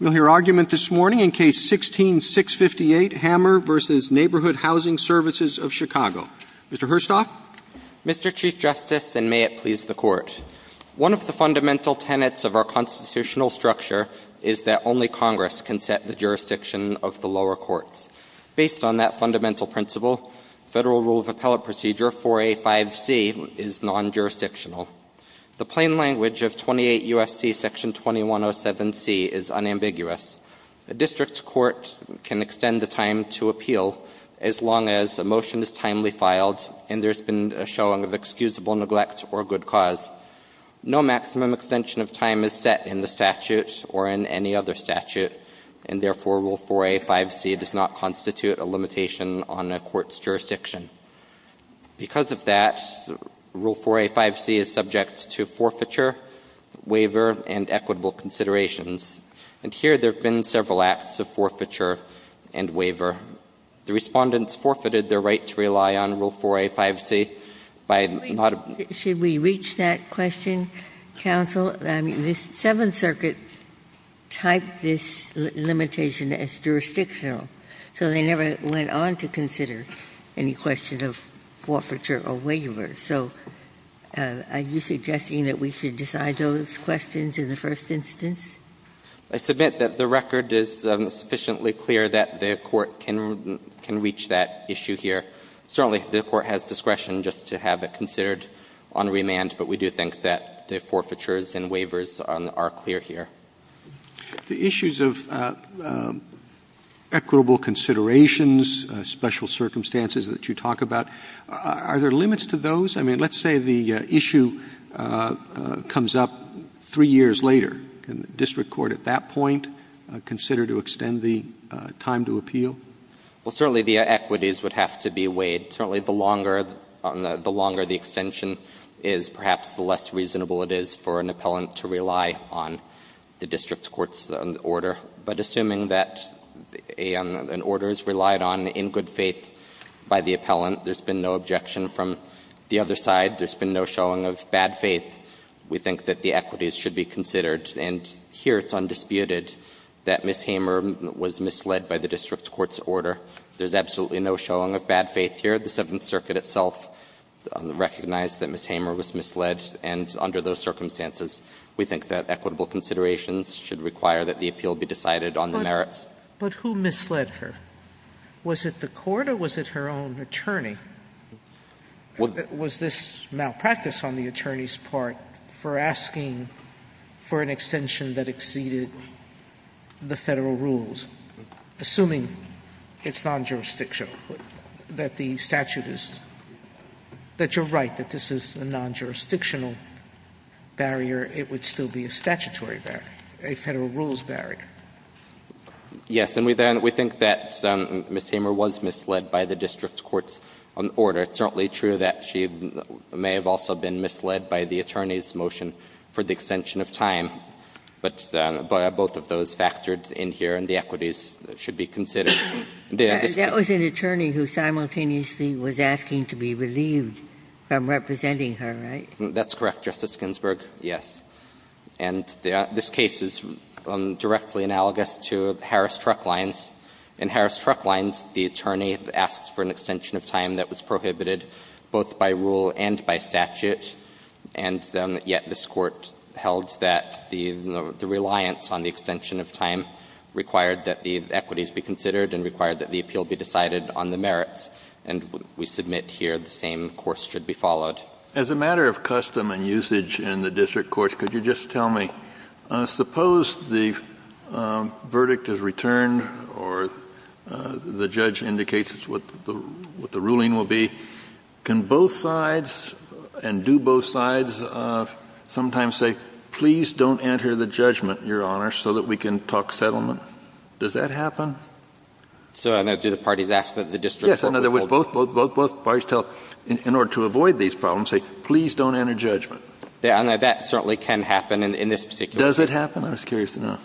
We'll hear argument this morning in Case 16-658, Hamer v. Neighborhood Housing Services of Chicago. Mr. Herstoff? Mr. Chief Justice, and may it please the Court, one of the fundamental tenets of our constitutional structure is that only Congress can set the jurisdiction of the lower courts. Based on that fundamental principle, Federal Rule of Appellate Procedure 4A.5c is non-jurisdictional. The plain language of 28 U.S.C. Section 2107c is unambiguous. A district court can extend the time to appeal as long as a motion is timely filed and there's been a showing of excusable neglect or good cause. No maximum extension of time is set in the statute or in any other statute, and therefore, Rule 4A.5c does not constitute a limitation on a court's jurisdiction. Because of that, Rule 4A.5c is subject to forfeiture, waiver, and equitable considerations. And here, there have been several acts of forfeiture and waiver. The Respondents forfeited their right to rely on Rule 4A.5c by not ---- Should we reach that question, Counsel? I mean, the Seventh Circuit typed this limitation as jurisdictional, so they never went on to consider any question of forfeiture or waiver. So are you suggesting that we should decide those questions in the first instance? I submit that the record is sufficiently clear that the Court can reach that issue here. Certainly, the Court has discretion just to have it considered on remand, but we do think that the forfeitures and waivers are clear here. The issues of equitable considerations, special circumstances that you talk about, are there limits to those? I mean, let's say the issue comes up three years later. Can the district court at that point consider to extend the time to appeal? Well, certainly, the equities would have to be weighed. Certainly, the longer the extension is, perhaps the less reasonable it is for an appellant to rely on the district court's order. But assuming that an order is relied on in good faith by the appellant, there's been no objection from the other side, there's been no showing of bad faith, we think that the equities should be considered. And here it's undisputed that Ms. Hamer was misled by the district court's order. There's absolutely no showing of bad faith here. The Seventh Circuit itself recognized that Ms. Hamer was misled, and under those circumstances, we think that equitable considerations should require that the appeal be decided on the merits. But who misled her? Was it the court or was it her own attorney? Was this malpractice on the attorney's part for asking for an extension that exceeded the Federal rules, assuming it's non-jurisdictional, that the statute is — that you're right, that this is a non-jurisdictional barrier, it would still be a statutory barrier, a Federal rules barrier? Yes. And we think that Ms. Hamer was misled by the district court's order. It's certainly true that she may have also been misled by the attorney's motion for the equalities that should be considered. That was an attorney who simultaneously was asking to be relieved from representing her, right? That's correct, Justice Ginsburg, yes. And this case is directly analogous to Harris Truck Lines. In Harris Truck Lines, the attorney asks for an extension of time that was prohibited both by rule and by statute, and yet this Court held that the reliance on the extension of time required that the equities be considered and required that the appeal be decided on the merits. And we submit here the same course should be followed. As a matter of custom and usage in the district courts, could you just tell me, suppose the verdict is returned or the judge indicates what the ruling will be, can both sides and do both sides sometimes say, please don't enter the judgment, Your Honor, so that we can talk settlement? Does that happen? So, no, do the parties ask that the district court withhold it? Yes. In other words, both parties tell, in order to avoid these problems, say, please don't enter judgment. And that certainly can happen in this particular case. Does it happen? I was curious to know.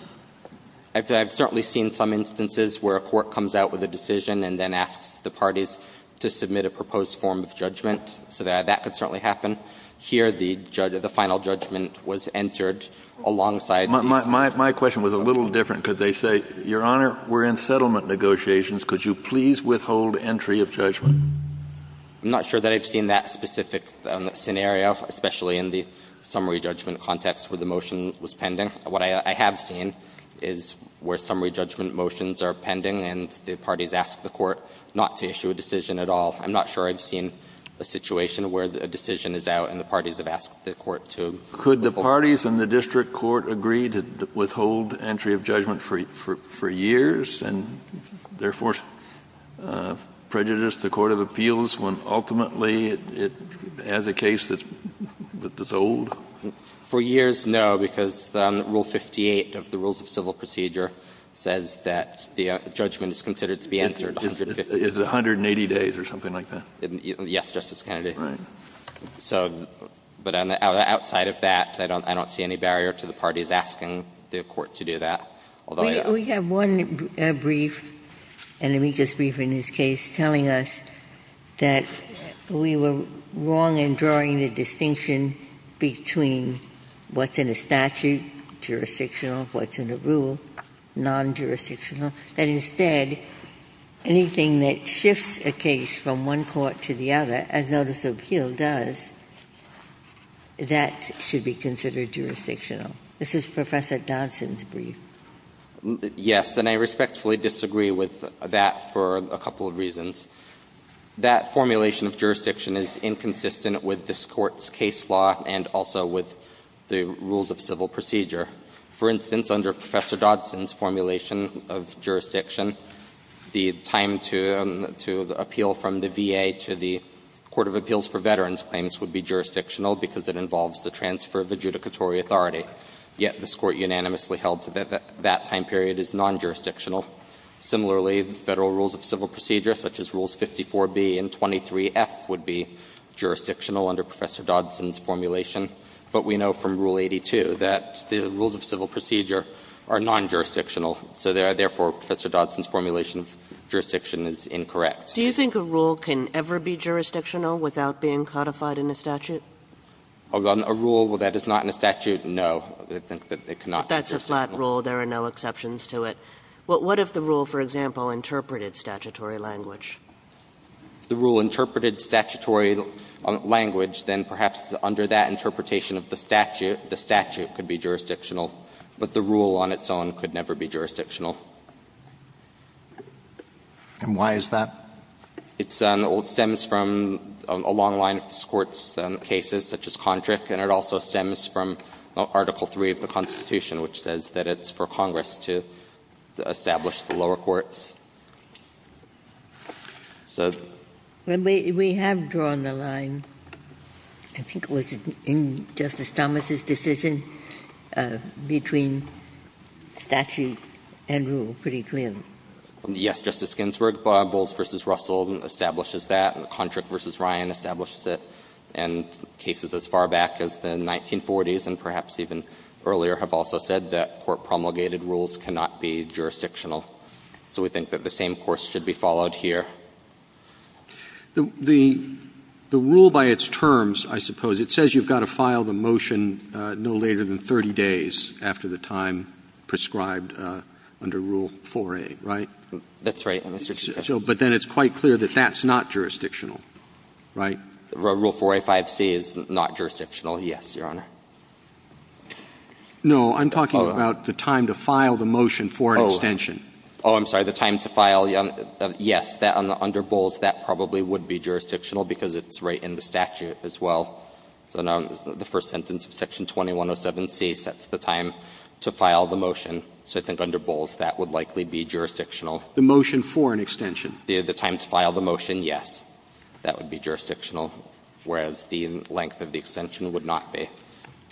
I've certainly seen some instances where a court comes out with a decision and then a judgment, and that can certainly happen. Here, the final judgment was entered alongside these. My question was a little different. Could they say, Your Honor, we're in settlement negotiations. Could you please withhold entry of judgment? I'm not sure that I've seen that specific scenario, especially in the summary judgment context where the motion was pending. What I have seen is where summary judgment motions are pending and the parties ask the court not to issue a decision at all. I'm not sure I've seen a situation where a decision is out and the parties have asked the court to withhold. Could the parties in the district court agree to withhold entry of judgment for years and, therefore, prejudice the court of appeals when ultimately it has a case that's old? For years, no, because Rule 58 of the Rules of Civil Procedure says that the judgment is considered to be entered 150 days. Is it 180 days or something like that? Yes, Justice Kennedy. Right. So, but outside of that, I don't see any barrier to the parties asking the court to do that. We have one brief, an amicus brief in this case, telling us that we were wrong in drawing the distinction between what's in a statute, jurisdictional, what's in a rule, non-jurisdictional, that instead anything that shifts a case from one court to the other, as notice of appeal does, that should be considered jurisdictional. This is Professor Dodson's brief. Yes, and I respectfully disagree with that for a couple of reasons. That formulation of jurisdiction is inconsistent with this Court's case law and also with the Rules of Civil Procedure. For instance, under Professor Dodson's formulation of jurisdiction, the time to appeal from the VA to the Court of Appeals for Veterans claims would be jurisdictional because it involves the transfer of adjudicatory authority. Yet this Court unanimously held that that time period is non-jurisdictional. Similarly, Federal Rules of Civil Procedure, such as Rules 54b and 23f, would be jurisdictional under Professor Dodson's formulation. But we know from Rule 82 that the Rules of Civil Procedure are non-jurisdictional, so therefore Professor Dodson's formulation of jurisdiction is incorrect. Do you think a rule can ever be jurisdictional without being codified in a statute? A rule that is not in a statute, no. I think that it cannot be jurisdictional. But that's a flat rule. There are no exceptions to it. What if the rule, for example, interpreted statutory language? If the rule interpreted statutory language, then perhaps under that interpretation of the statute, the statute could be jurisdictional. But the rule on its own could never be jurisdictional. And why is that? It stems from a long line of this Court's cases, such as Kondrick, and it also stems from Article III of the Constitution, which says that it's for Congress to establish the lower courts. So the ---- Ginsburg, I think it was in Justice Thomas' decision, between statute and rule pretty clearly. Yes, Justice Ginsburg. Bowles v. Russell establishes that. Kondrick v. Ryan establishes it. And cases as far back as the 1940s and perhaps even earlier have also said that court promulgated rules cannot be jurisdictional. So we think that the same course should be followed here. The rule by its terms, I suppose, it says you've got to file the motion no later than 30 days after the time prescribed under Rule 4A, right? That's right, Mr. Chief Justice. But then it's quite clear that that's not jurisdictional, right? Rule 4A, 5C is not jurisdictional, yes, Your Honor. No, I'm talking about the time to file the motion for an extension. Oh, I'm sorry, the time to file, yes, under Bowles, that probably would be jurisdictional because it's right in the statute as well. So now the first sentence of Section 2107c sets the time to file the motion. So I think under Bowles, that would likely be jurisdictional. The motion for an extension. The time to file the motion, yes, that would be jurisdictional, whereas the length of the extension would not be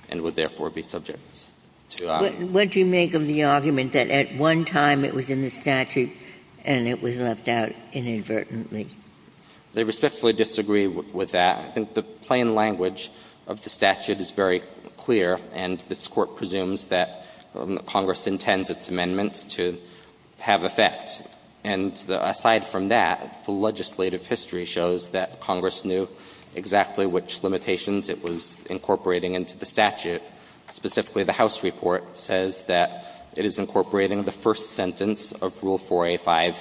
and would therefore be subject to a ---- What do you make of the argument that at one time it was in the statute and it was left out inadvertently? They respectfully disagree with that. I think the plain language of the statute is very clear, and this Court presumes that Congress intends its amendments to have effect. And aside from that, the legislative history shows that Congress knew exactly which limitations it was incorporating into the statute, specifically the House report says that it is incorporating the first sentence of Rule 4A.5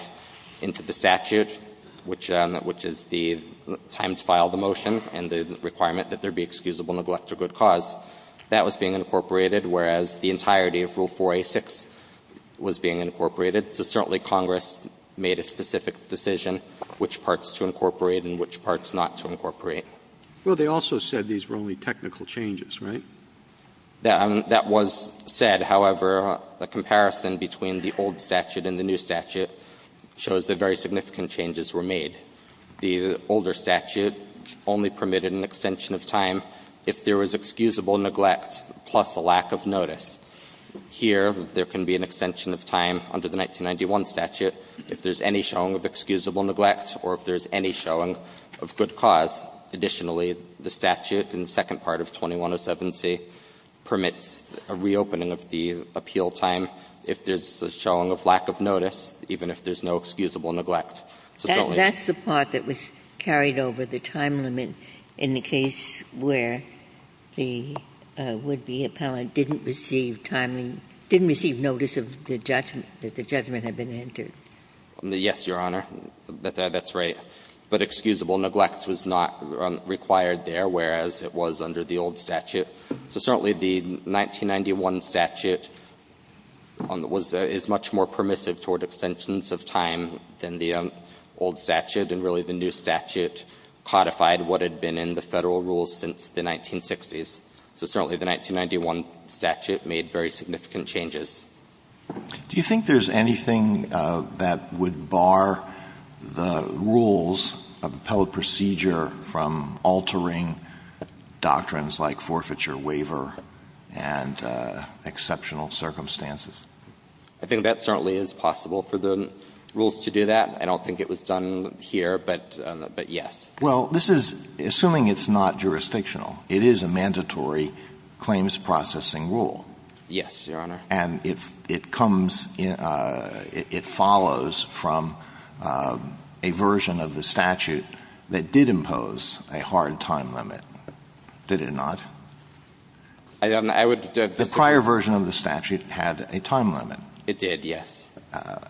into the statute, which is the time to file the motion and the requirement that there be excusable neglect or good cause. That was being incorporated, whereas the entirety of Rule 4A.6 was being incorporated. So certainly Congress made a specific decision which parts to incorporate and which parts not to incorporate. Well, they also said these were only technical changes, right? That was said, however, a comparison between the old statute and the new statute shows that very significant changes were made. The older statute only permitted an extension of time if there was excusable neglect plus a lack of notice. Here, there can be an extension of time under the 1991 statute if there's any showing of excusable neglect or if there's any showing of good cause. Additionally, the statute in the second part of 2107c permits a reopening of the appeal time if there's a showing of lack of notice, even if there's no excusable neglect. So certainly that's the part that was carried over the time limit in the case where the would-be appellant didn't receive timely, didn't receive notice of the judgment, that the judgment had been entered. Yes, Your Honor, that's right. But excusable neglect was not required there, whereas it was under the old statute. So certainly the 1991 statute is much more permissive toward extensions of time than the old statute, and really the new statute codified what had been in the Federal rules since the 1960s. So certainly the 1991 statute made very significant changes. Do you think there's anything that would bar the rules of the appellate procedure from altering doctrines like forfeiture waiver and exceptional circumstances? I think that certainly is possible for the rules to do that. I don't think it was done here, but yes. Well, this is, assuming it's not jurisdictional, it is a mandatory claims processing rule. Yes, Your Honor. And it comes, it follows from a version of the statute that did impose a hard time limit, did it not? I would, I would. The prior version of the statute had a time limit. It did, yes.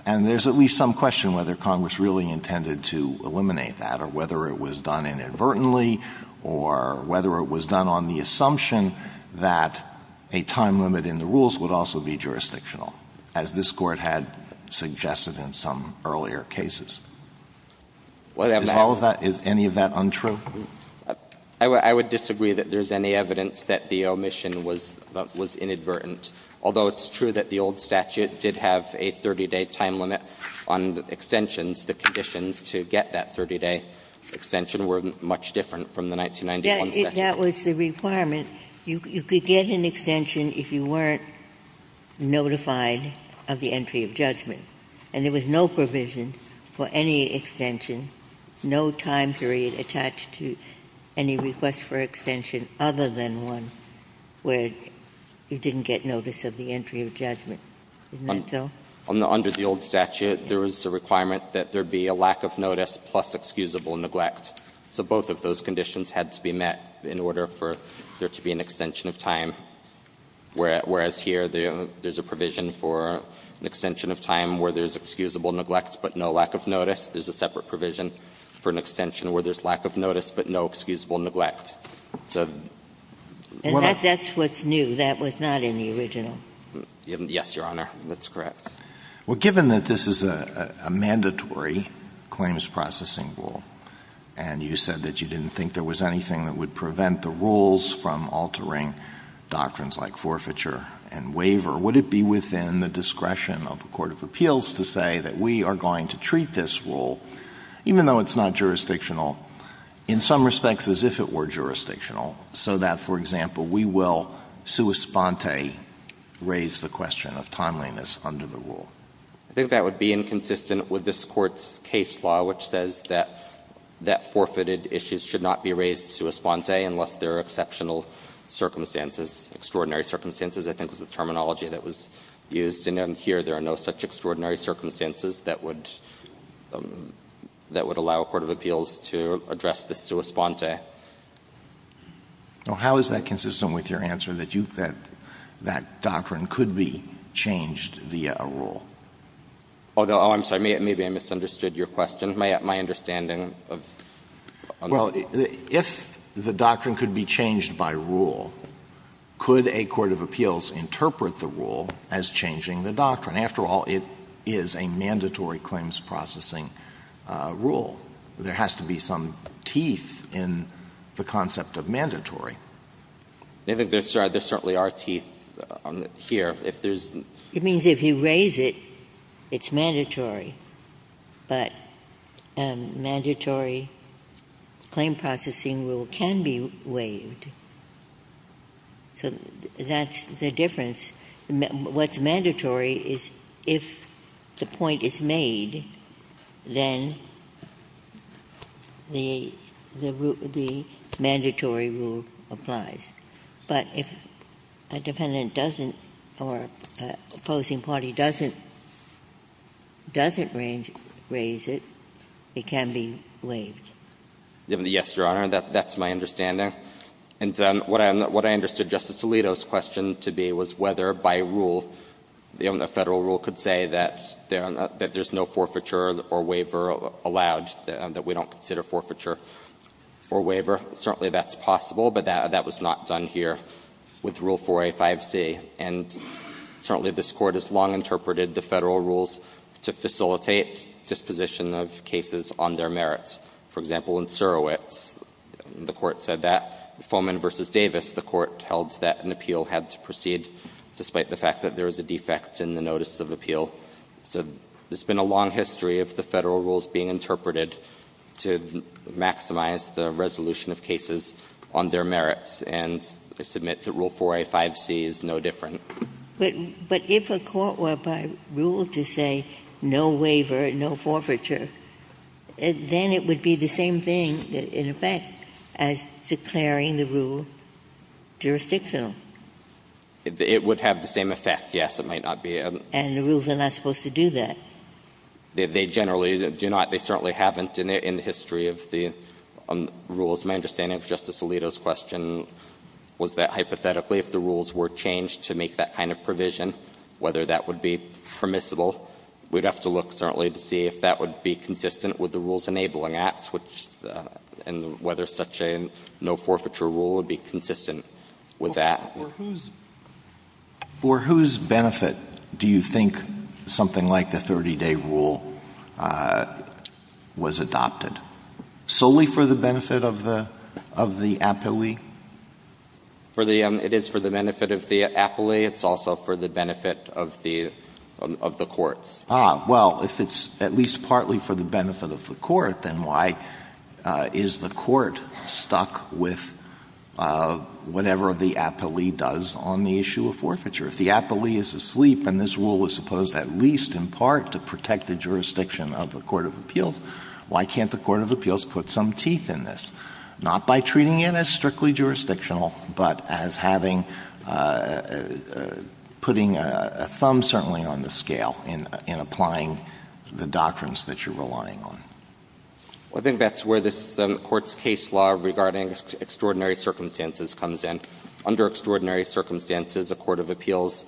And there's at least some question whether Congress really intended to eliminate that or whether it was done inadvertently or whether it was done on the assumption that a time limit in the rules would also be jurisdictional, as this Court had suggested in some earlier cases. Is all of that, is any of that untrue? I would disagree that there's any evidence that the omission was, was inadvertent. Although it's true that the old statute did have a 30-day time limit on extensions, the conditions to get that 30-day extension were much different from the 1991 statute. Ginsburg-Miller That was the requirement. You could get an extension if you weren't notified of the entry of judgment. And there was no provision for any extension, no time period attached to any request for extension other than one where you didn't get notice of the entry of judgment. Isn't that so? Under the old statute, there was a requirement that there be a lack of notice plus excusable neglect. So both of those conditions had to be met in order for there to be an extension of time, whereas here there's a provision for an extension of time where there's excusable neglect but no lack of notice. There's a separate provision for an extension where there's lack of notice but no excusable neglect. So what I'm saying is that's what's new. That was not in the original. Yes, Your Honor, that's correct. Well, given that this is a mandatory claims processing rule, and you said that you didn't think there was anything that would prevent the rules from altering doctrines like forfeiture and waiver, would it be within the discretion of the court of appeals to say that we are going to treat this rule, even though it's not jurisdictional, in some respects as if it were jurisdictional, so that, for example, we will sua sponte? I think that would be inconsistent with this Court's case law, which says that forfeited issues should not be raised sua sponte unless there are exceptional circumstances, extraordinary circumstances, I think was the terminology that was used, and here there are no such extraordinary circumstances that would allow a court of appeals to address the sua sponte. Now, how is that consistent with your answer that you think that doctrine could be changed via a rule? Although, oh, I'm sorry, maybe I misunderstood your question, my understanding of the question. Well, if the doctrine could be changed by rule, could a court of appeals interpret the rule as changing the doctrine? After all, it is a mandatory claims processing rule. There has to be some teeth in the concept of mandatory. I think there certainly are teeth here. If there's not. It means if you raise it, it's mandatory, but a mandatory claim processing rule can be waived. So that's the difference. What's mandatory is if the point is made, then the mandatory rule applies. But if a defendant doesn't or an opposing party doesn't raise it, it can be waived. Yes, Your Honor, that's my understanding. And what I understood Justice Alito's question to be was whether by rule, the Federal rule could say that there's no forfeiture or waiver allowed, that we don't consider forfeiture or waiver. Certainly that's possible, but that was not done here with Rule 4a, 5c. And certainly this Court has long interpreted the Federal rules to facilitate disposition of cases on their merits. For example, in Surowitz, the Court said that. Foman v. Davis, the Court held that an appeal had to proceed despite the fact that there is a defect in the notice of appeal. So there's been a long history of the Federal rules being interpreted to maximize the resolution of cases on their merits. And I submit that Rule 4a, 5c is no different. But if a court were, by rule, to say no waiver, no forfeiture, then it would be the same thing, in effect, as declaring the rule jurisdictional. It would have the same effect, yes. It might not be. And the rules are not supposed to do that. They generally do not. They certainly haven't in the history of the rules. My understanding of Justice Alito's question was that hypothetically, if the rules were changed to make that kind of provision, whether that would be permissible, we'd have to look, certainly, to see if that would be consistent with the Rules Enabling Act, which the — and whether such a no forfeiture rule would be consistent with that. Alito For whose — for whose benefit do you think something like the 30-day rule was adopted? Solely for the benefit of the — of the appellee? For the — it is for the benefit of the appellee. It's also for the benefit of the — of the courts. Ah. Well, if it's at least partly for the benefit of the court, then why is the court stuck with whatever the appellee does on the issue of forfeiture? If the appellee is asleep and this rule was supposed, at least in part, to protect the jurisdiction of the court of appeals, why can't the court of appeals put some teeth in this? Not by treating it as strictly jurisdictional, but as having — putting a thumb, certainly, on the scale in — in applying the doctrines that you're relying on. Well, I think that's where this Court's case law regarding extraordinary circumstances comes in. Under extraordinary circumstances, a court of appeals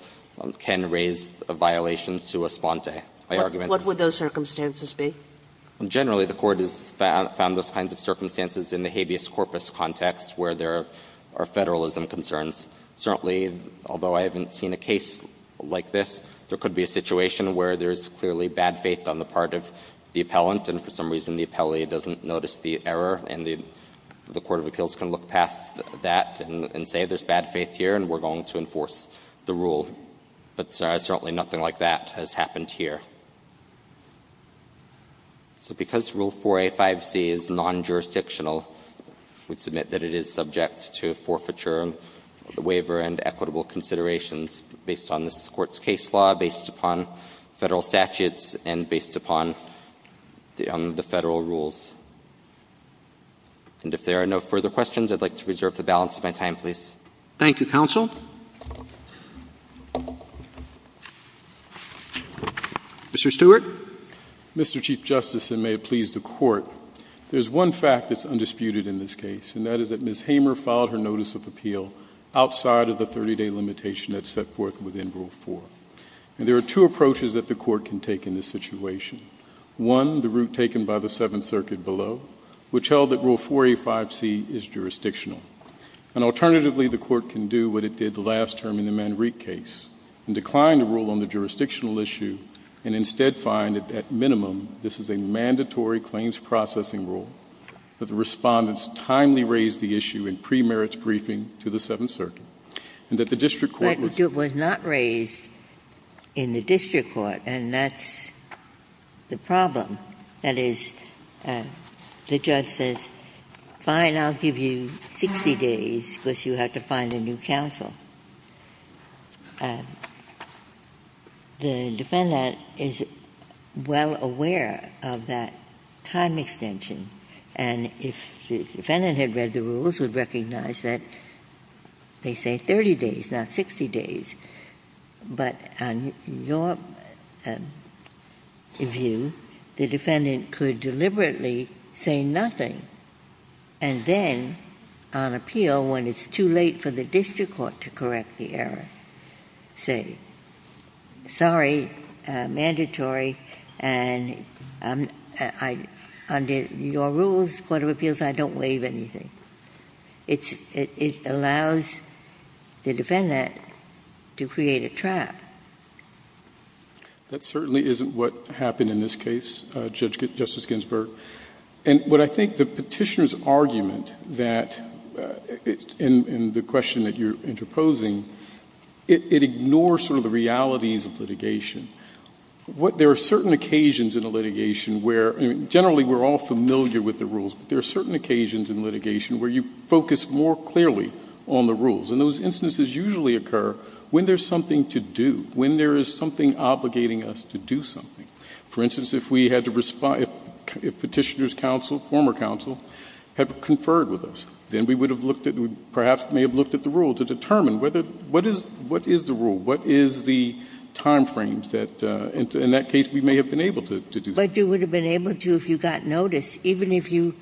can raise a violation to a sponte. My argument is — What would those circumstances be? Generally, the Court has found those kinds of circumstances in the habeas corpus context, where there are federalism concerns. Certainly, although I haven't seen a case like this, there could be a situation where there's clearly bad faith on the part of the appellant, and for some reason the appellee doesn't notice the error, and the court of appeals can look past that and say there's bad faith here and we're going to enforce the rule. But certainly nothing like that has happened here. So because Rule 4A.5c is non-jurisdictional, we submit that it is subject to forfeiture of the waiver and equitable considerations based on this Court's case law, based upon Federal statutes, and based upon the — on the Federal rules. And if there are no further questions, I'd like to reserve the balance of my time, please. Thank you, Counsel. Mr. Stewart. Mr. Chief Justice, and may it please the Court, there's one fact that's undisputed in this case, and that is that Ms. Hamer filed her notice of appeal outside of the 30-day limitation that's set forth within Rule 4. And there are two approaches that the Court can take in this situation. One, the route taken by the Seventh Circuit below, which held that Rule 4A.5c is jurisdictional. And alternatively, the Court can do what it did the last term in the Manrique case, and decline the rule on the jurisdictional issue, and instead find that, at minimum, this is a mandatory claims processing rule, that the Respondents timely raised the issue in premerit's briefing to the Seventh Circuit, and that the district court was — But it was not raised in the district court, and that's the problem. That is, the judge says, fine, I'll give you 60 days, because you have to find a new counsel. The defendant is well aware of that time extension, and if the defendant had read the rules, would recognize that they say 30 days, not 60 days. But on your view, the defendant could deliberately say nothing, and then on appeal, when it's too late for the district court to correct the error, say, sorry, mandatory, and I'm — under your rules, court of appeals, I don't waive anything. It's — it allows the defendant to create a trap. That certainly isn't what happened in this case, Judge — Justice Ginsburg. And what I think the Petitioner's argument that — in the question that you're interposing, it ignores sort of the realities of litigation. What — there are certain occasions in a litigation where — generally, we're all in litigation where you focus more clearly on the rules, and those instances usually occur when there's something to do, when there is something obligating us to do something. For instance, if we had to — if Petitioner's counsel, former counsel, had conferred with us, then we would have looked at — perhaps may have looked at the rule to determine whether — what is — what is the rule, what is the time frame that, in that case, we may have been able to do something. But you would have been able to if you got notice, even if you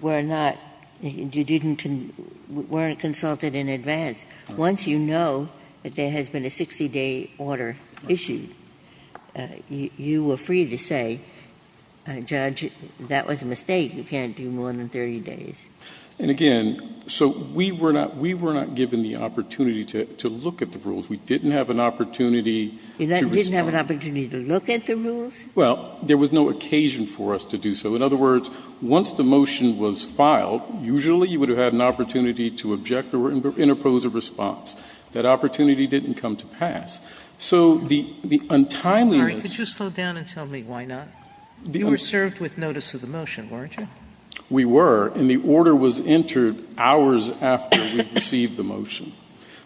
were not — you didn't — weren't consulted in advance. Once you know that there has been a 60-day order issued, you were free to say, Judge, that was a mistake. You can't do more than 30 days. And again, so we were not — we were not given the opportunity to look at the rules. We didn't have an opportunity to respond. You didn't have an opportunity to look at the rules? Well, there was no occasion for us to do so. In other words, once the motion was filed, usually you would have had an opportunity to object or interpose a response. That opportunity didn't come to pass. So the — the untimeliness — Could you slow down and tell me why not? You were served with notice of the motion, weren't you? We were. And the order was entered hours after we received the motion.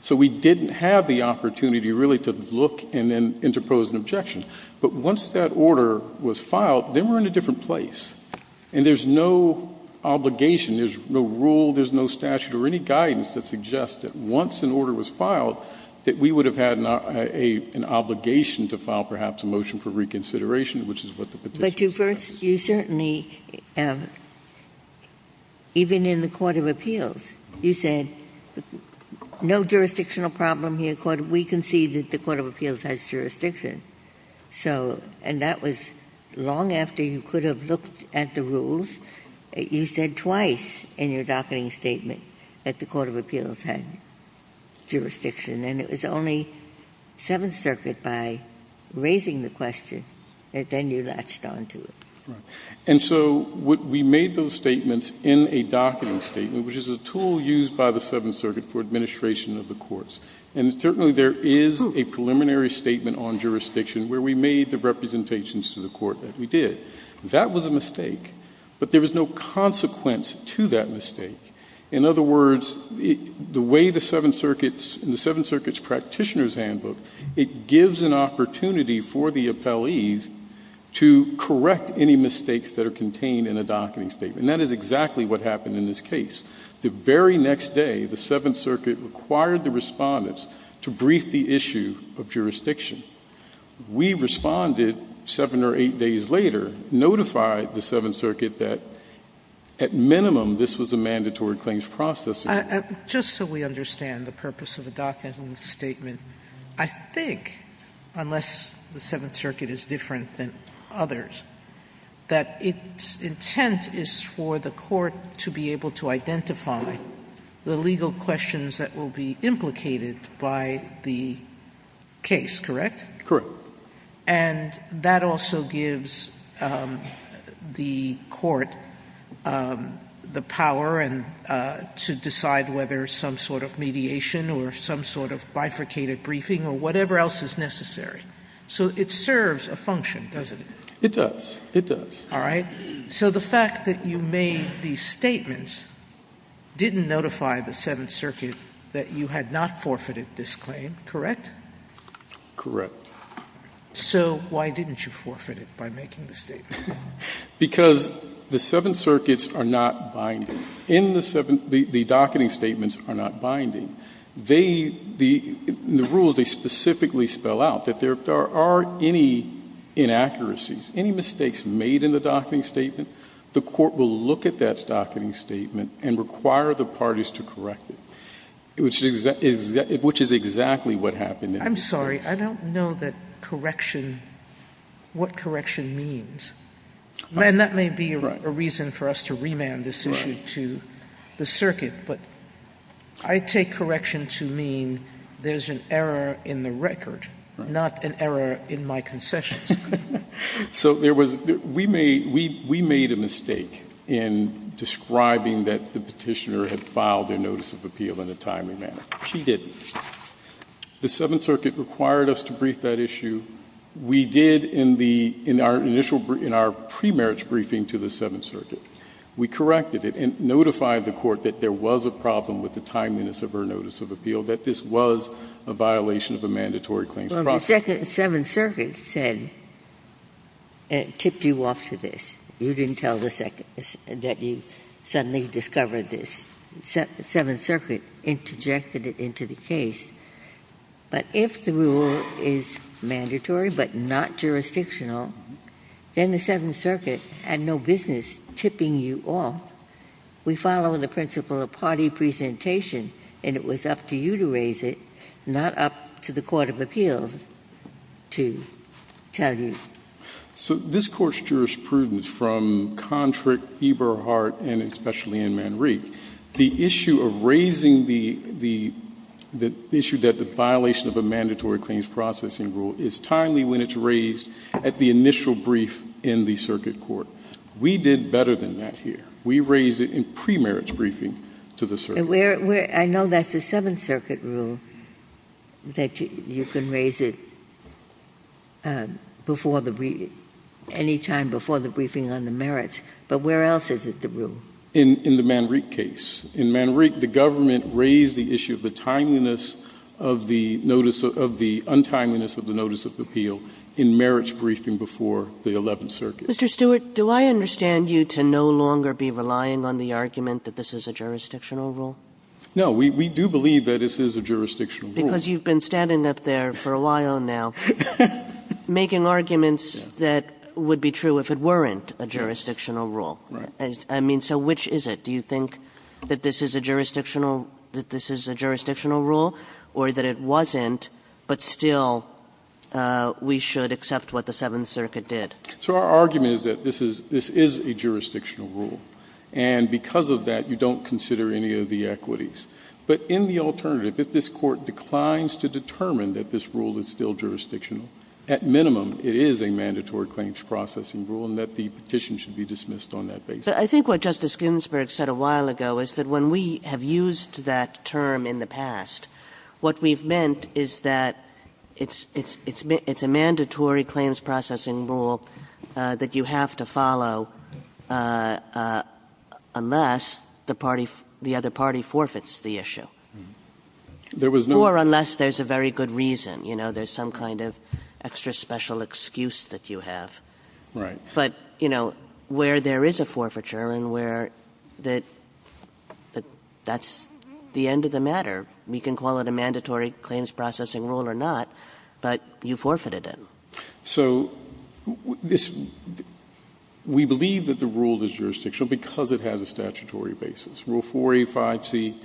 So we didn't have the opportunity, really, to look and then interpose an objection. But once that order was filed, then we're in a different place. And there's no obligation, there's no rule, there's no statute or any guidance that suggests that once an order was filed, that we would have had an obligation to file, perhaps, a motion for reconsideration, which is what the petition says. But to first — you certainly — even in the Court of Appeals, you said, no jurisdictional problem here. We concede that the Court of Appeals has jurisdiction. So — and that was long after you could have looked at the rules. You said twice in your docketing statement that the Court of Appeals had jurisdiction. And it was only Seventh Circuit, by raising the question, that then you latched on to it. Right. And so we made those statements in a docketing statement, which is a tool used by the Seventh Circuit for administration of the courts. And certainly, there is a preliminary statement on jurisdiction where we made the representations to the court that we did. That was a mistake. But there was no consequence to that mistake. In other words, the way the Seventh Circuit's — in the Seventh Circuit's practitioner's handbook, it gives an opportunity for the appellees to correct any mistakes that are contained in a docketing statement. And that is exactly what happened in this case. The very next day, the Seventh Circuit required the respondents to brief the issue of jurisdiction. We responded seven or eight days later, notified the Seventh Circuit that, at minimum, this was a mandatory claims process. Just so we understand the purpose of a docketing statement, I think, unless the Seventh Circuit does not identify the legal questions that will be implicated by the case, correct? Correct. And that also gives the court the power to decide whether some sort of mediation or some sort of bifurcated briefing or whatever else is necessary. So it serves a function, doesn't it? It does. It does. All right. So the fact that you made these statements didn't notify the Seventh Circuit that you had not forfeited this claim, correct? Correct. So why didn't you forfeit it by making the statement? Because the Seventh Circuit's are not binding. In the — the docketing statements are not binding. They — the rules, they specifically spell out that there are any inaccuracies, any mistakes made in the docketing statement. The court will look at that docketing statement and require the parties to correct it, which is exactly what happened in this case. I'm sorry. I don't know that correction — what correction means. And that may be a reason for us to remand this issue to the Circuit. But I take correction to mean there's an error in the record, not an error in my concessions. So there was — we made — we made a mistake in describing that the Petitioner had filed a notice of appeal in a timely manner. She didn't. The Seventh Circuit required us to brief that issue. We did in the — in our initial — in our pre-merits briefing to the Seventh Circuit. We corrected it and notified the court that there was a problem with the timeliness of her notice of appeal, that this was a violation of a mandatory claims process. Well, the Second — Seventh Circuit said — tipped you off to this. You didn't tell the Second — that you suddenly discovered this. Seventh Circuit interjected it into the case. But if the rule is mandatory but not jurisdictional, then the Seventh Circuit had no business tipping you off. We follow the principle of party presentation, and it was up to you to raise it, not up to the Court of Appeals to tell you. So this Court's jurisprudence from Kontrick, Eberhardt, and especially in Manrique, the issue of raising the — the issue that the violation of a mandatory claims processing rule is timely when it's raised at the initial brief in the Circuit Court. We did better than that here. We raised it in pre-merits briefing to the Circuit. And where — I know that's the Seventh Circuit rule, that you can raise it before the — any time before the briefing on the merits, but where else is it the rule? In — in the Manrique case. In Manrique, the government raised the issue of the timeliness of the notice of — of the untimeliness of the notice of appeal in merits briefing before the Eleventh Circuit. Mr. Stewart, do I understand you to no longer be relying on the argument that this is a jurisdictional rule? No. We — we do believe that this is a jurisdictional rule. Because you've been standing up there for a while now making arguments that would be true if it weren't a jurisdictional rule. Right. I mean, so which is it? Do you think that this is a jurisdictional — that this is a jurisdictional rule or that it wasn't, but still we should accept what the Seventh Circuit did? So our argument is that this is — this is a jurisdictional rule. And because of that, you don't consider any of the equities. But in the alternative, if this Court declines to determine that this rule is still jurisdictional, at minimum, it is a mandatory claims processing rule and that the petition should be dismissed on that basis. I think what Justice Ginsburg said a while ago is that when we have used that term in the past, what we've meant is that it's — it's — it's a mandatory claims processing rule that you have to follow unless the party — the other party forfeits the issue. There was no — Or unless there's a very good reason. You know, there's some kind of extra special excuse that you have. Right. But, you know, where there is a forfeiture and where that — that's the end of the matter, we can call it a mandatory claims processing rule or not, but you forfeited it. So this — we believe that the rule is jurisdictional because it has a statutory basis. Rule 4A-5C,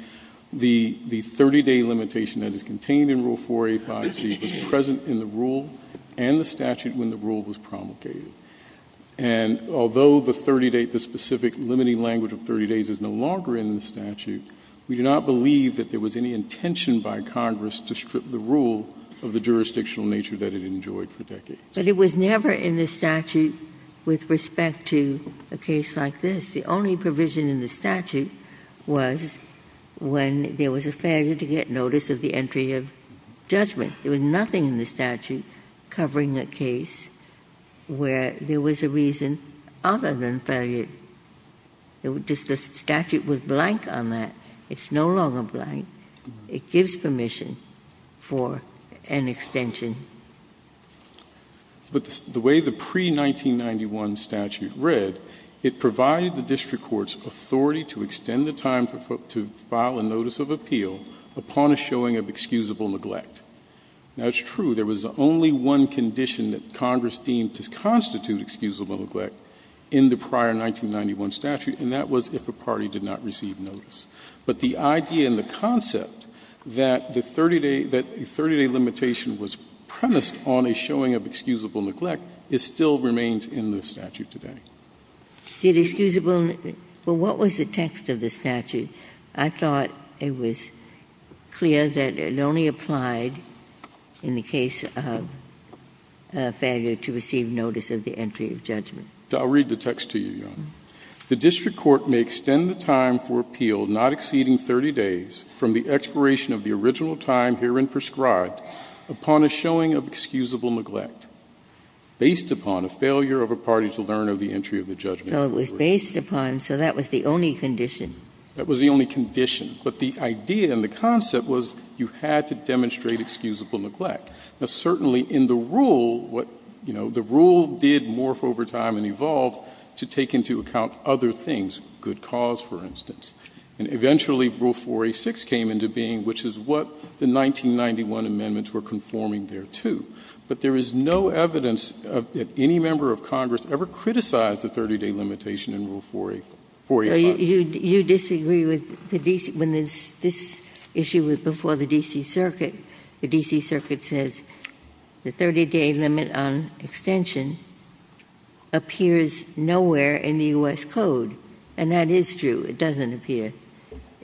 the — the 30-day limitation that is contained in Rule 4A-5C was present in the rule and the statute when the rule was promulgated. And although the 30-day — the specific limiting language of 30 days is no longer in the statute, we do not believe that there was any intention by Congress to strip the rule of the jurisdictional nature that it enjoyed for decades. But it was never in the statute with respect to a case like this. The only provision in the statute was when there was a failure to get notice of the entry of judgment. There was nothing in the statute covering a case where there was a reason other than failure. Just the statute was blank on that. It's no longer blank. It gives permission for an extension. But the way the pre-1991 statute read, it provided the district court's authority to extend the time to file a notice of appeal upon a showing of excusable neglect. Now, it's true, there was only one condition that Congress deemed to constitute excusable neglect in the prior 1991 statute, and that was if a party did not receive notice. But the idea and the concept that the 30-day — that a 30-day limitation was premised on a showing of excusable neglect, it still remains in the statute today. Ginsburg. Did excusable — well, what was the text of the statute? I thought it was clear that it only applied in the case of failure to receive notice of the entry of judgment. I'll read the text to you, Your Honor. The district court may extend the time for appeal not exceeding 30 days from the expiration of the original time herein prescribed upon a showing of excusable neglect based upon a failure of a party to learn of the entry of the judgment. So it was based upon — so that was the only condition. That was the only condition. But the idea and the concept was you had to demonstrate excusable neglect. Now, certainly in the rule, what — you know, the rule did morph over time and evolved to take into account other things, good cause, for instance. And eventually, Rule 4A6 came into being, which is what the 1991 amendments were conforming there to. But there is no evidence that any member of Congress ever criticized the 30-day limitation in Rule 4A — 4A5. So you disagree with the — when this issue was before the D.C. Circuit, the D.C. Circuit, it was nowhere in the U.S. Code. And that is true. It doesn't appear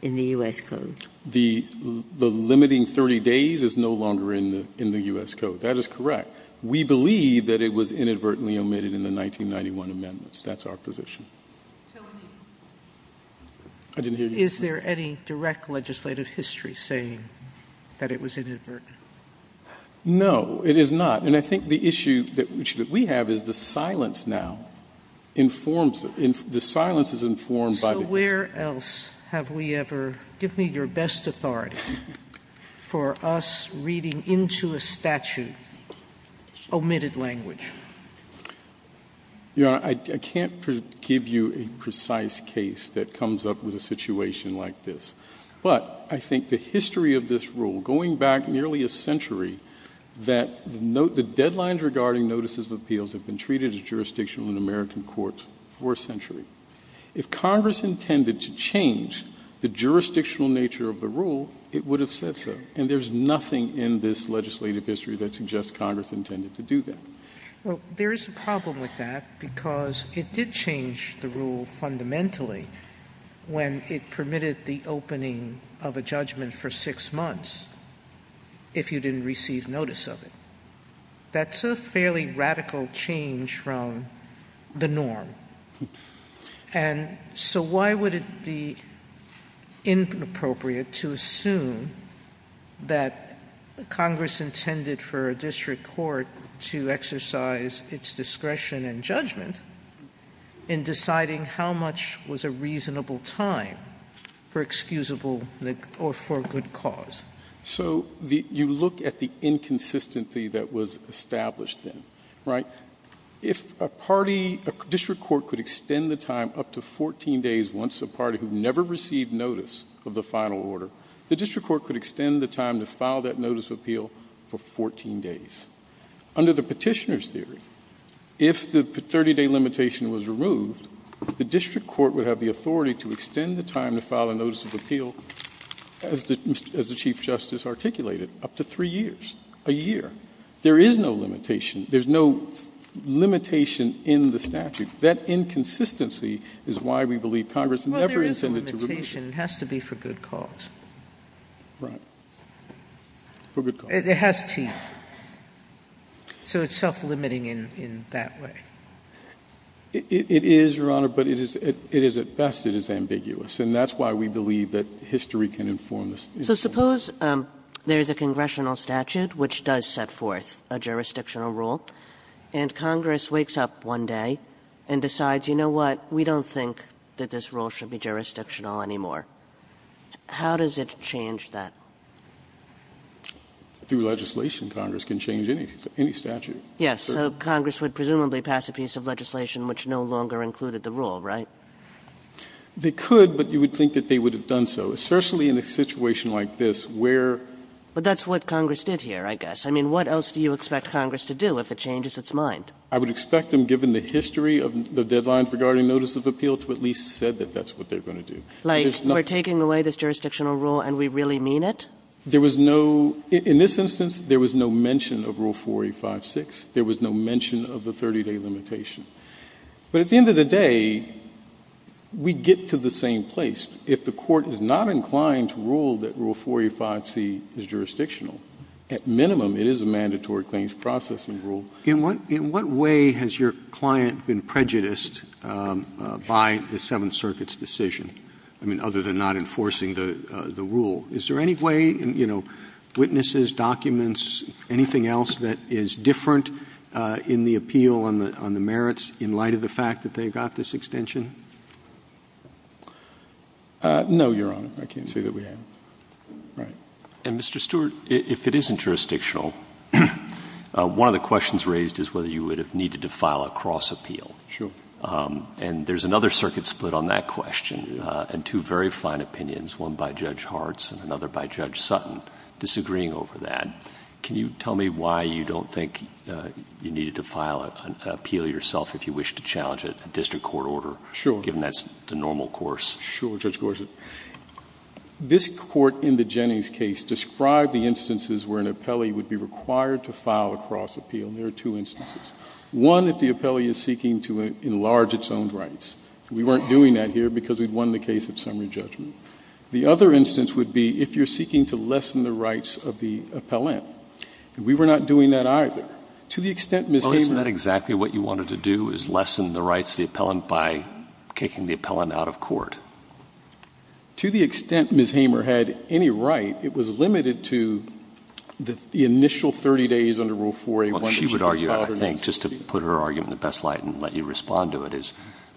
in the U.S. Code. The — the limiting 30 days is no longer in the — in the U.S. Code. That is correct. We believe that it was inadvertently omitted in the 1991 amendments. That's our position. I didn't hear you. Is there any direct legislative history saying that it was inadvertent? No, it is not. And I think the issue that we have is the silence now informs — the silence is informed by the — So where else have we ever — give me your best authority for us reading into a statute omitted language? Your Honor, I can't give you a precise case that comes up with a situation like this. But I think the history of this rule, going back nearly a century, that the deadlines regarding notices of appeals have been treated as jurisdictional in American courts for a century. If Congress intended to change the jurisdictional nature of the rule, it would have said so. And there's nothing in this legislative history that suggests Congress intended to do that. Well, there is a problem with that because it did change the rule fundamentally when it permitted the opening of a judgment for six months if you didn't receive notice of it. That's a fairly radical change from the norm. And so why would it be inappropriate to assume that Congress intended for a district reasonable time for excusable — or for a good cause? So you look at the inconsistency that was established then, right? If a party — a district court could extend the time up to 14 days once a party who never received notice of the final order, the district court could extend the time to file that notice of appeal for 14 days. Under the petitioner's theory, if the 30-day limitation was removed, the district court would have the authority to extend the time to file a notice of appeal, as the Chief Justice articulated, up to three years, a year. There is no limitation. There's no limitation in the statute. That inconsistency is why we believe Congress never intended to remove it. Well, there is a limitation. It has to be for good cause. Right. For good cause. It has teeth. So it's self-limiting in that way. It is, Your Honor, but it is — it is, at best, it is ambiguous. And that's why we believe that history can inform us. So suppose there is a congressional statute which does set forth a jurisdictional rule, and Congress wakes up one day and decides, you know what, we don't think that this rule should be jurisdictional anymore. How does it change that? Through legislation, Congress can change any — any statute. Yes. So Congress would presumably pass a piece of legislation which no longer included the rule, right? They could, but you would think that they would have done so, especially in a situation like this where — But that's what Congress did here, I guess. I mean, what else do you expect Congress to do if it changes its mind? I would expect them, given the history of the deadline regarding notice of appeal, to at least have said that that's what they're going to do. Like, we're taking away this jurisdictional rule and we really mean it? There was no — in this instance, there was no mention of Rule 4856. There was no mention of the 30-day limitation. But at the end of the day, we get to the same place. If the Court is not inclined to rule that Rule 485C is jurisdictional, at minimum it is a mandatory claims processing rule. In what — in what way has your client been prejudiced by the Seventh Circuit's decision, I mean, other than not enforcing the — the rule? Is there any way — you know, witnesses, documents, anything else that is different in the appeal on the — on the merits in light of the fact that they got this extension? No, Your Honor. I can't say that we have. Right. And, Mr. Stewart, if it isn't jurisdictional, one of the questions raised is whether you would have needed to file a cross-appeal. Sure. And there's another circuit split on that question and two very fine opinions, one by Judge Hartz and another by Judge Sutton, disagreeing over that. Can you tell me why you don't think you needed to file an appeal yourself if you wish to challenge it, a district court order, given that's the normal course? Sure, Judge Gorsuch. This Court in the Jennings case described the instances where an appellee would be required to file a cross-appeal, and there are two instances. One, if the appellee is seeking to enlarge its own rights. We weren't doing that here because we'd won the case of summary judgment. The other instance would be if you're seeking to lessen the rights of the appellant. We were not doing that either. To the extent Ms. Hamer— Well, isn't that exactly what you wanted to do, is lessen the rights of the appellant by kicking the appellant out of court? To the extent Ms. Hamer had any right, it was limited to the initial 30 days under Rule 4A1— She would argue, I think, just to put her argument in the best light and let you respond to it, is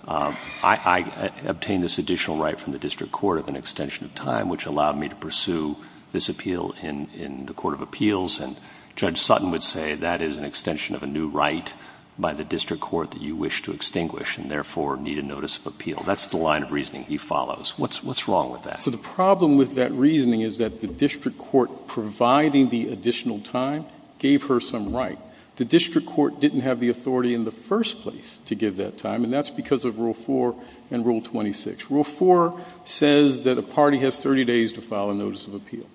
I obtained this additional right from the district court of an extension of time, which allowed me to pursue this appeal in the court of appeals. And Judge Sutton would say that is an extension of a new right by the district court that you wish to extinguish and therefore need a notice of appeal. That's the line of reasoning he follows. What's wrong with that? So the problem with that reasoning is that the district court providing the additional time gave her some right. The district court didn't have the authority in the first place to give that time, and that's because of Rule 4 and Rule 26. Rule 4 says that a party has 30 days to file a notice of appeal.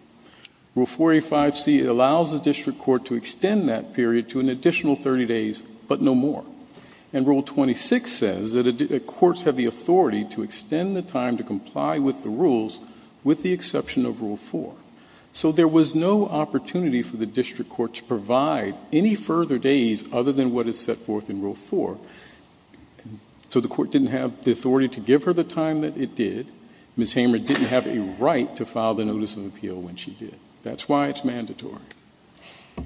Rule 4A5C allows the district court to extend that period to an additional 30 days, but no more. And Rule 26 says that courts have the authority to extend the time to comply with the rules with the exception of Rule 4. So there was no opportunity for the district court to provide any further days other than what is set forth in Rule 4. So the court didn't have the authority to give her the time that it did. Ms. Hamer didn't have a right to file the notice of appeal when she did. That's why it's mandatory. Are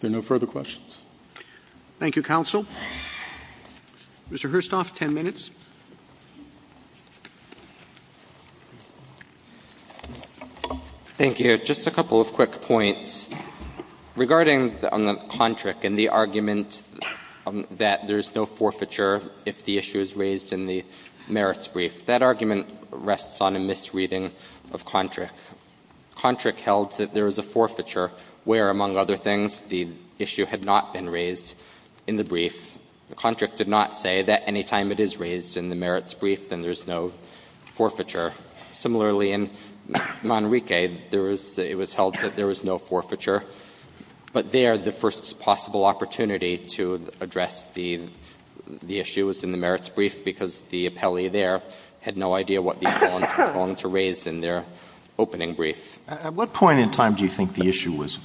there no further questions? Roberts. Thank you, counsel. Mr. Herstoff, 10 minutes. Thank you. Just a couple of quick points. Regarding the contract and the argument that there's no forfeiture if the issue is raised in the merits brief, that argument rests on a misreading of contract. Contract held that there is a forfeiture where, among other things, the issue had not been raised in the brief. The contract did not say that any time it is raised in the merits brief, then there's no forfeiture. Similarly, in Manrique, it was held that there was no forfeiture. But there, the first possible opportunity to address the issue was in the merits brief because the appellee there had no idea what the appellant was going to raise in their opening brief. At what point in time do you think the issue was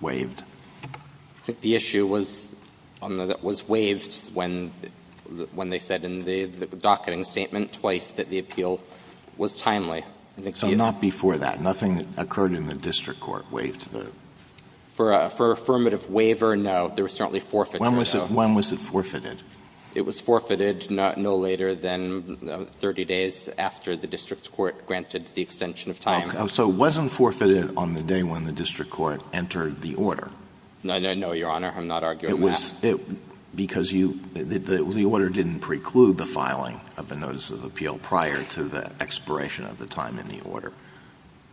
waived? I think the issue was waived when they said in the docketing statement twice that the appeal was timely. So not before that. Nothing occurred in the district court waived the? For affirmative waiver, no. There was certainly forfeiture. When was it forfeited? It was forfeited no later than 30 days after the district court granted the extension of time. So it wasn't forfeited on the day when the district court entered the order? No, Your Honor. I'm not arguing that. Because the order didn't preclude the filing of a notice of appeal prior to the expiration of the time in the order.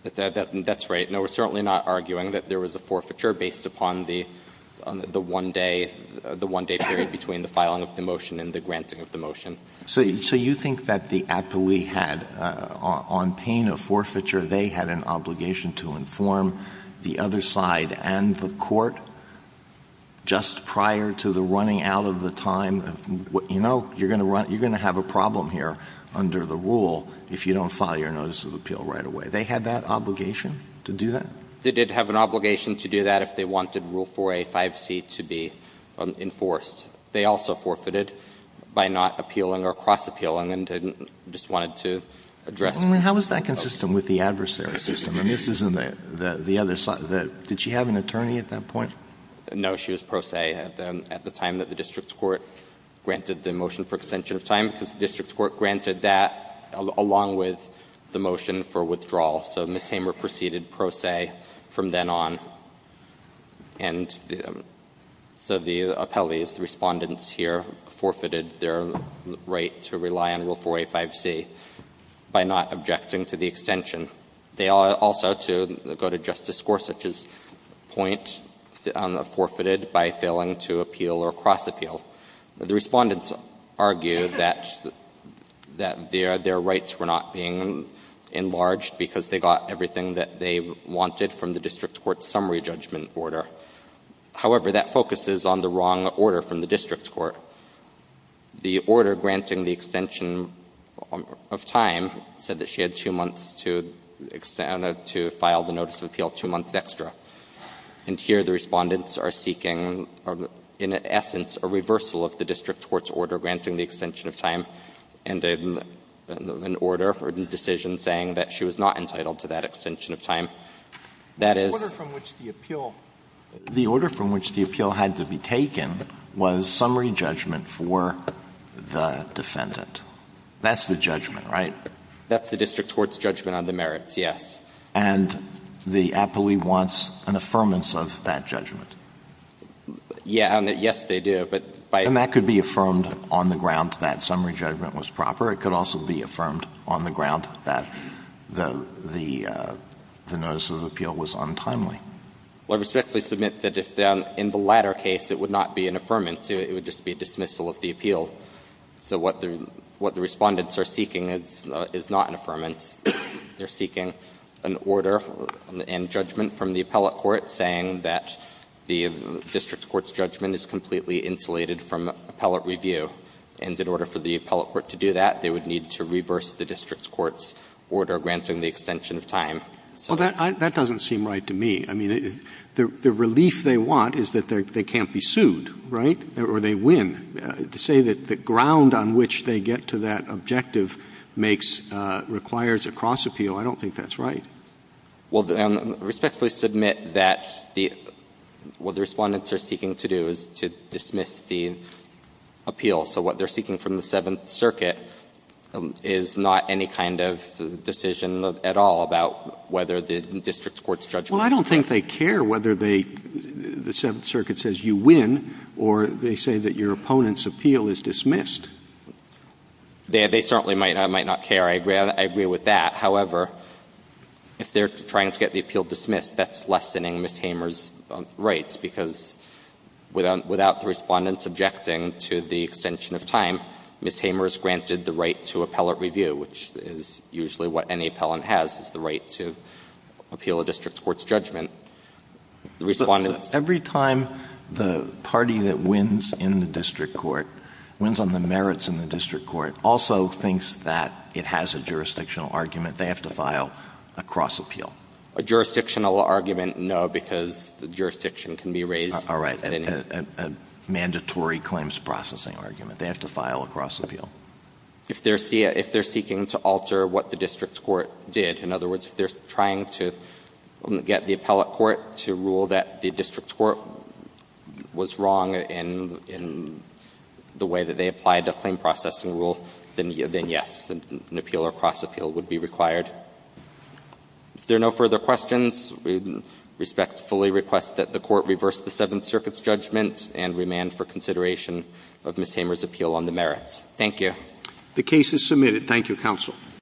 That's right. No, we're certainly not arguing that there was a forfeiture based upon the one-day period between the filing of the motion and the granting of the motion. So you think that the appellee had, on pain of forfeiture, they had an obligation to inform the other side and the court just prior to the running out of the time? You're going to have a problem here under the rule if you don't file your notice of appeal right away. They had that obligation to do that? They did have an obligation to do that if they wanted Rule 4A, 5C to be enforced. They also forfeited by not appealing or cross-appealing and didn't, just wanted to address. How is that consistent with the adversary system? And this isn't the other side. Did she have an attorney at that point? No, she was pro se at the time that the district court granted the motion for extension of time, because the district court granted that along with the motion for withdrawal. So Ms. Hamer proceeded pro se from then on. And so the appellees, the Respondents here, forfeited their right to rely on Rule 4A, 5C by not objecting to the extension. They also, to go to Justice Gorsuch's point, forfeited by failing to appeal or cross-appeal. The Respondents argued that their rights were not being enlarged because they got everything that they wanted from the district court's summary judgment order. However, that focuses on the wrong order from the district court. The order granting the extension of time said that she had two months to file the notice of appeal, two months extra. And here the Respondents are seeking, in essence, a reversal of the district court's order granting the extension of time and an order or decision saying that she was not entitled to that extension of time. That is the order from which the appeal had to be taken was summary judgment for the defendant. That's the judgment, right? That's the district court's judgment on the merits, yes. And the appellee wants an affirmance of that judgment. Yes, they do. And that could be affirmed on the ground that summary judgment was proper. It could also be affirmed on the ground that the notice of appeal was untimely. Well, I respectfully submit that in the latter case it would not be an affirmance. It would just be a dismissal of the appeal. So what the Respondents are seeking is not an affirmance. They're seeking an order and judgment from the appellate court saying that the district court's judgment is completely insulated from appellate review. And in order for the appellate court to do that, they would need to reverse the district court's order granting the extension of time. Well, that doesn't seem right to me. I mean, the relief they want is that they can't be sued, right? Or they win. To say that the ground on which they get to that objective makes, requires a cross appeal, I don't think that's right. Well, I respectfully submit that what the Respondents are seeking to do is to dismiss the appeal. So what they're seeking from the Seventh Circuit is not any kind of decision at all about whether the district court's judgment is correct. Well, I don't think they care whether they, the Seventh Circuit says you win or they say that your opponent's appeal is dismissed. They certainly might not care. I agree with that. However, if they're trying to get the appeal dismissed, that's lessening Ms. Hamer's rights, because without the Respondents objecting to the extension of time, Ms. Hamer is granted the right to appellate review, which is usually what any appellant has, is the right to appeal a district court's judgment. The Respondents — Every time the party that wins in the district court, wins on the merits in the district court, also thinks that it has a jurisdictional argument, they have to file a cross appeal. A jurisdictional argument? No, because the jurisdiction can be raised — All right, a mandatory claims processing argument. They have to file a cross appeal. If they're seeking to alter what the district court did, in other words, if they're trying to get the appellate court to rule that the district court was wrong in the way that they applied the claim processing rule, then yes, an appeal or cross appeal would be required. If there are no further questions, we respectfully request that the Court reverse the Seventh Circuit's judgment and remand for consideration of Ms. Hamer's appeal on the merits. Thank you. The case is submitted. Thank you, Counsel.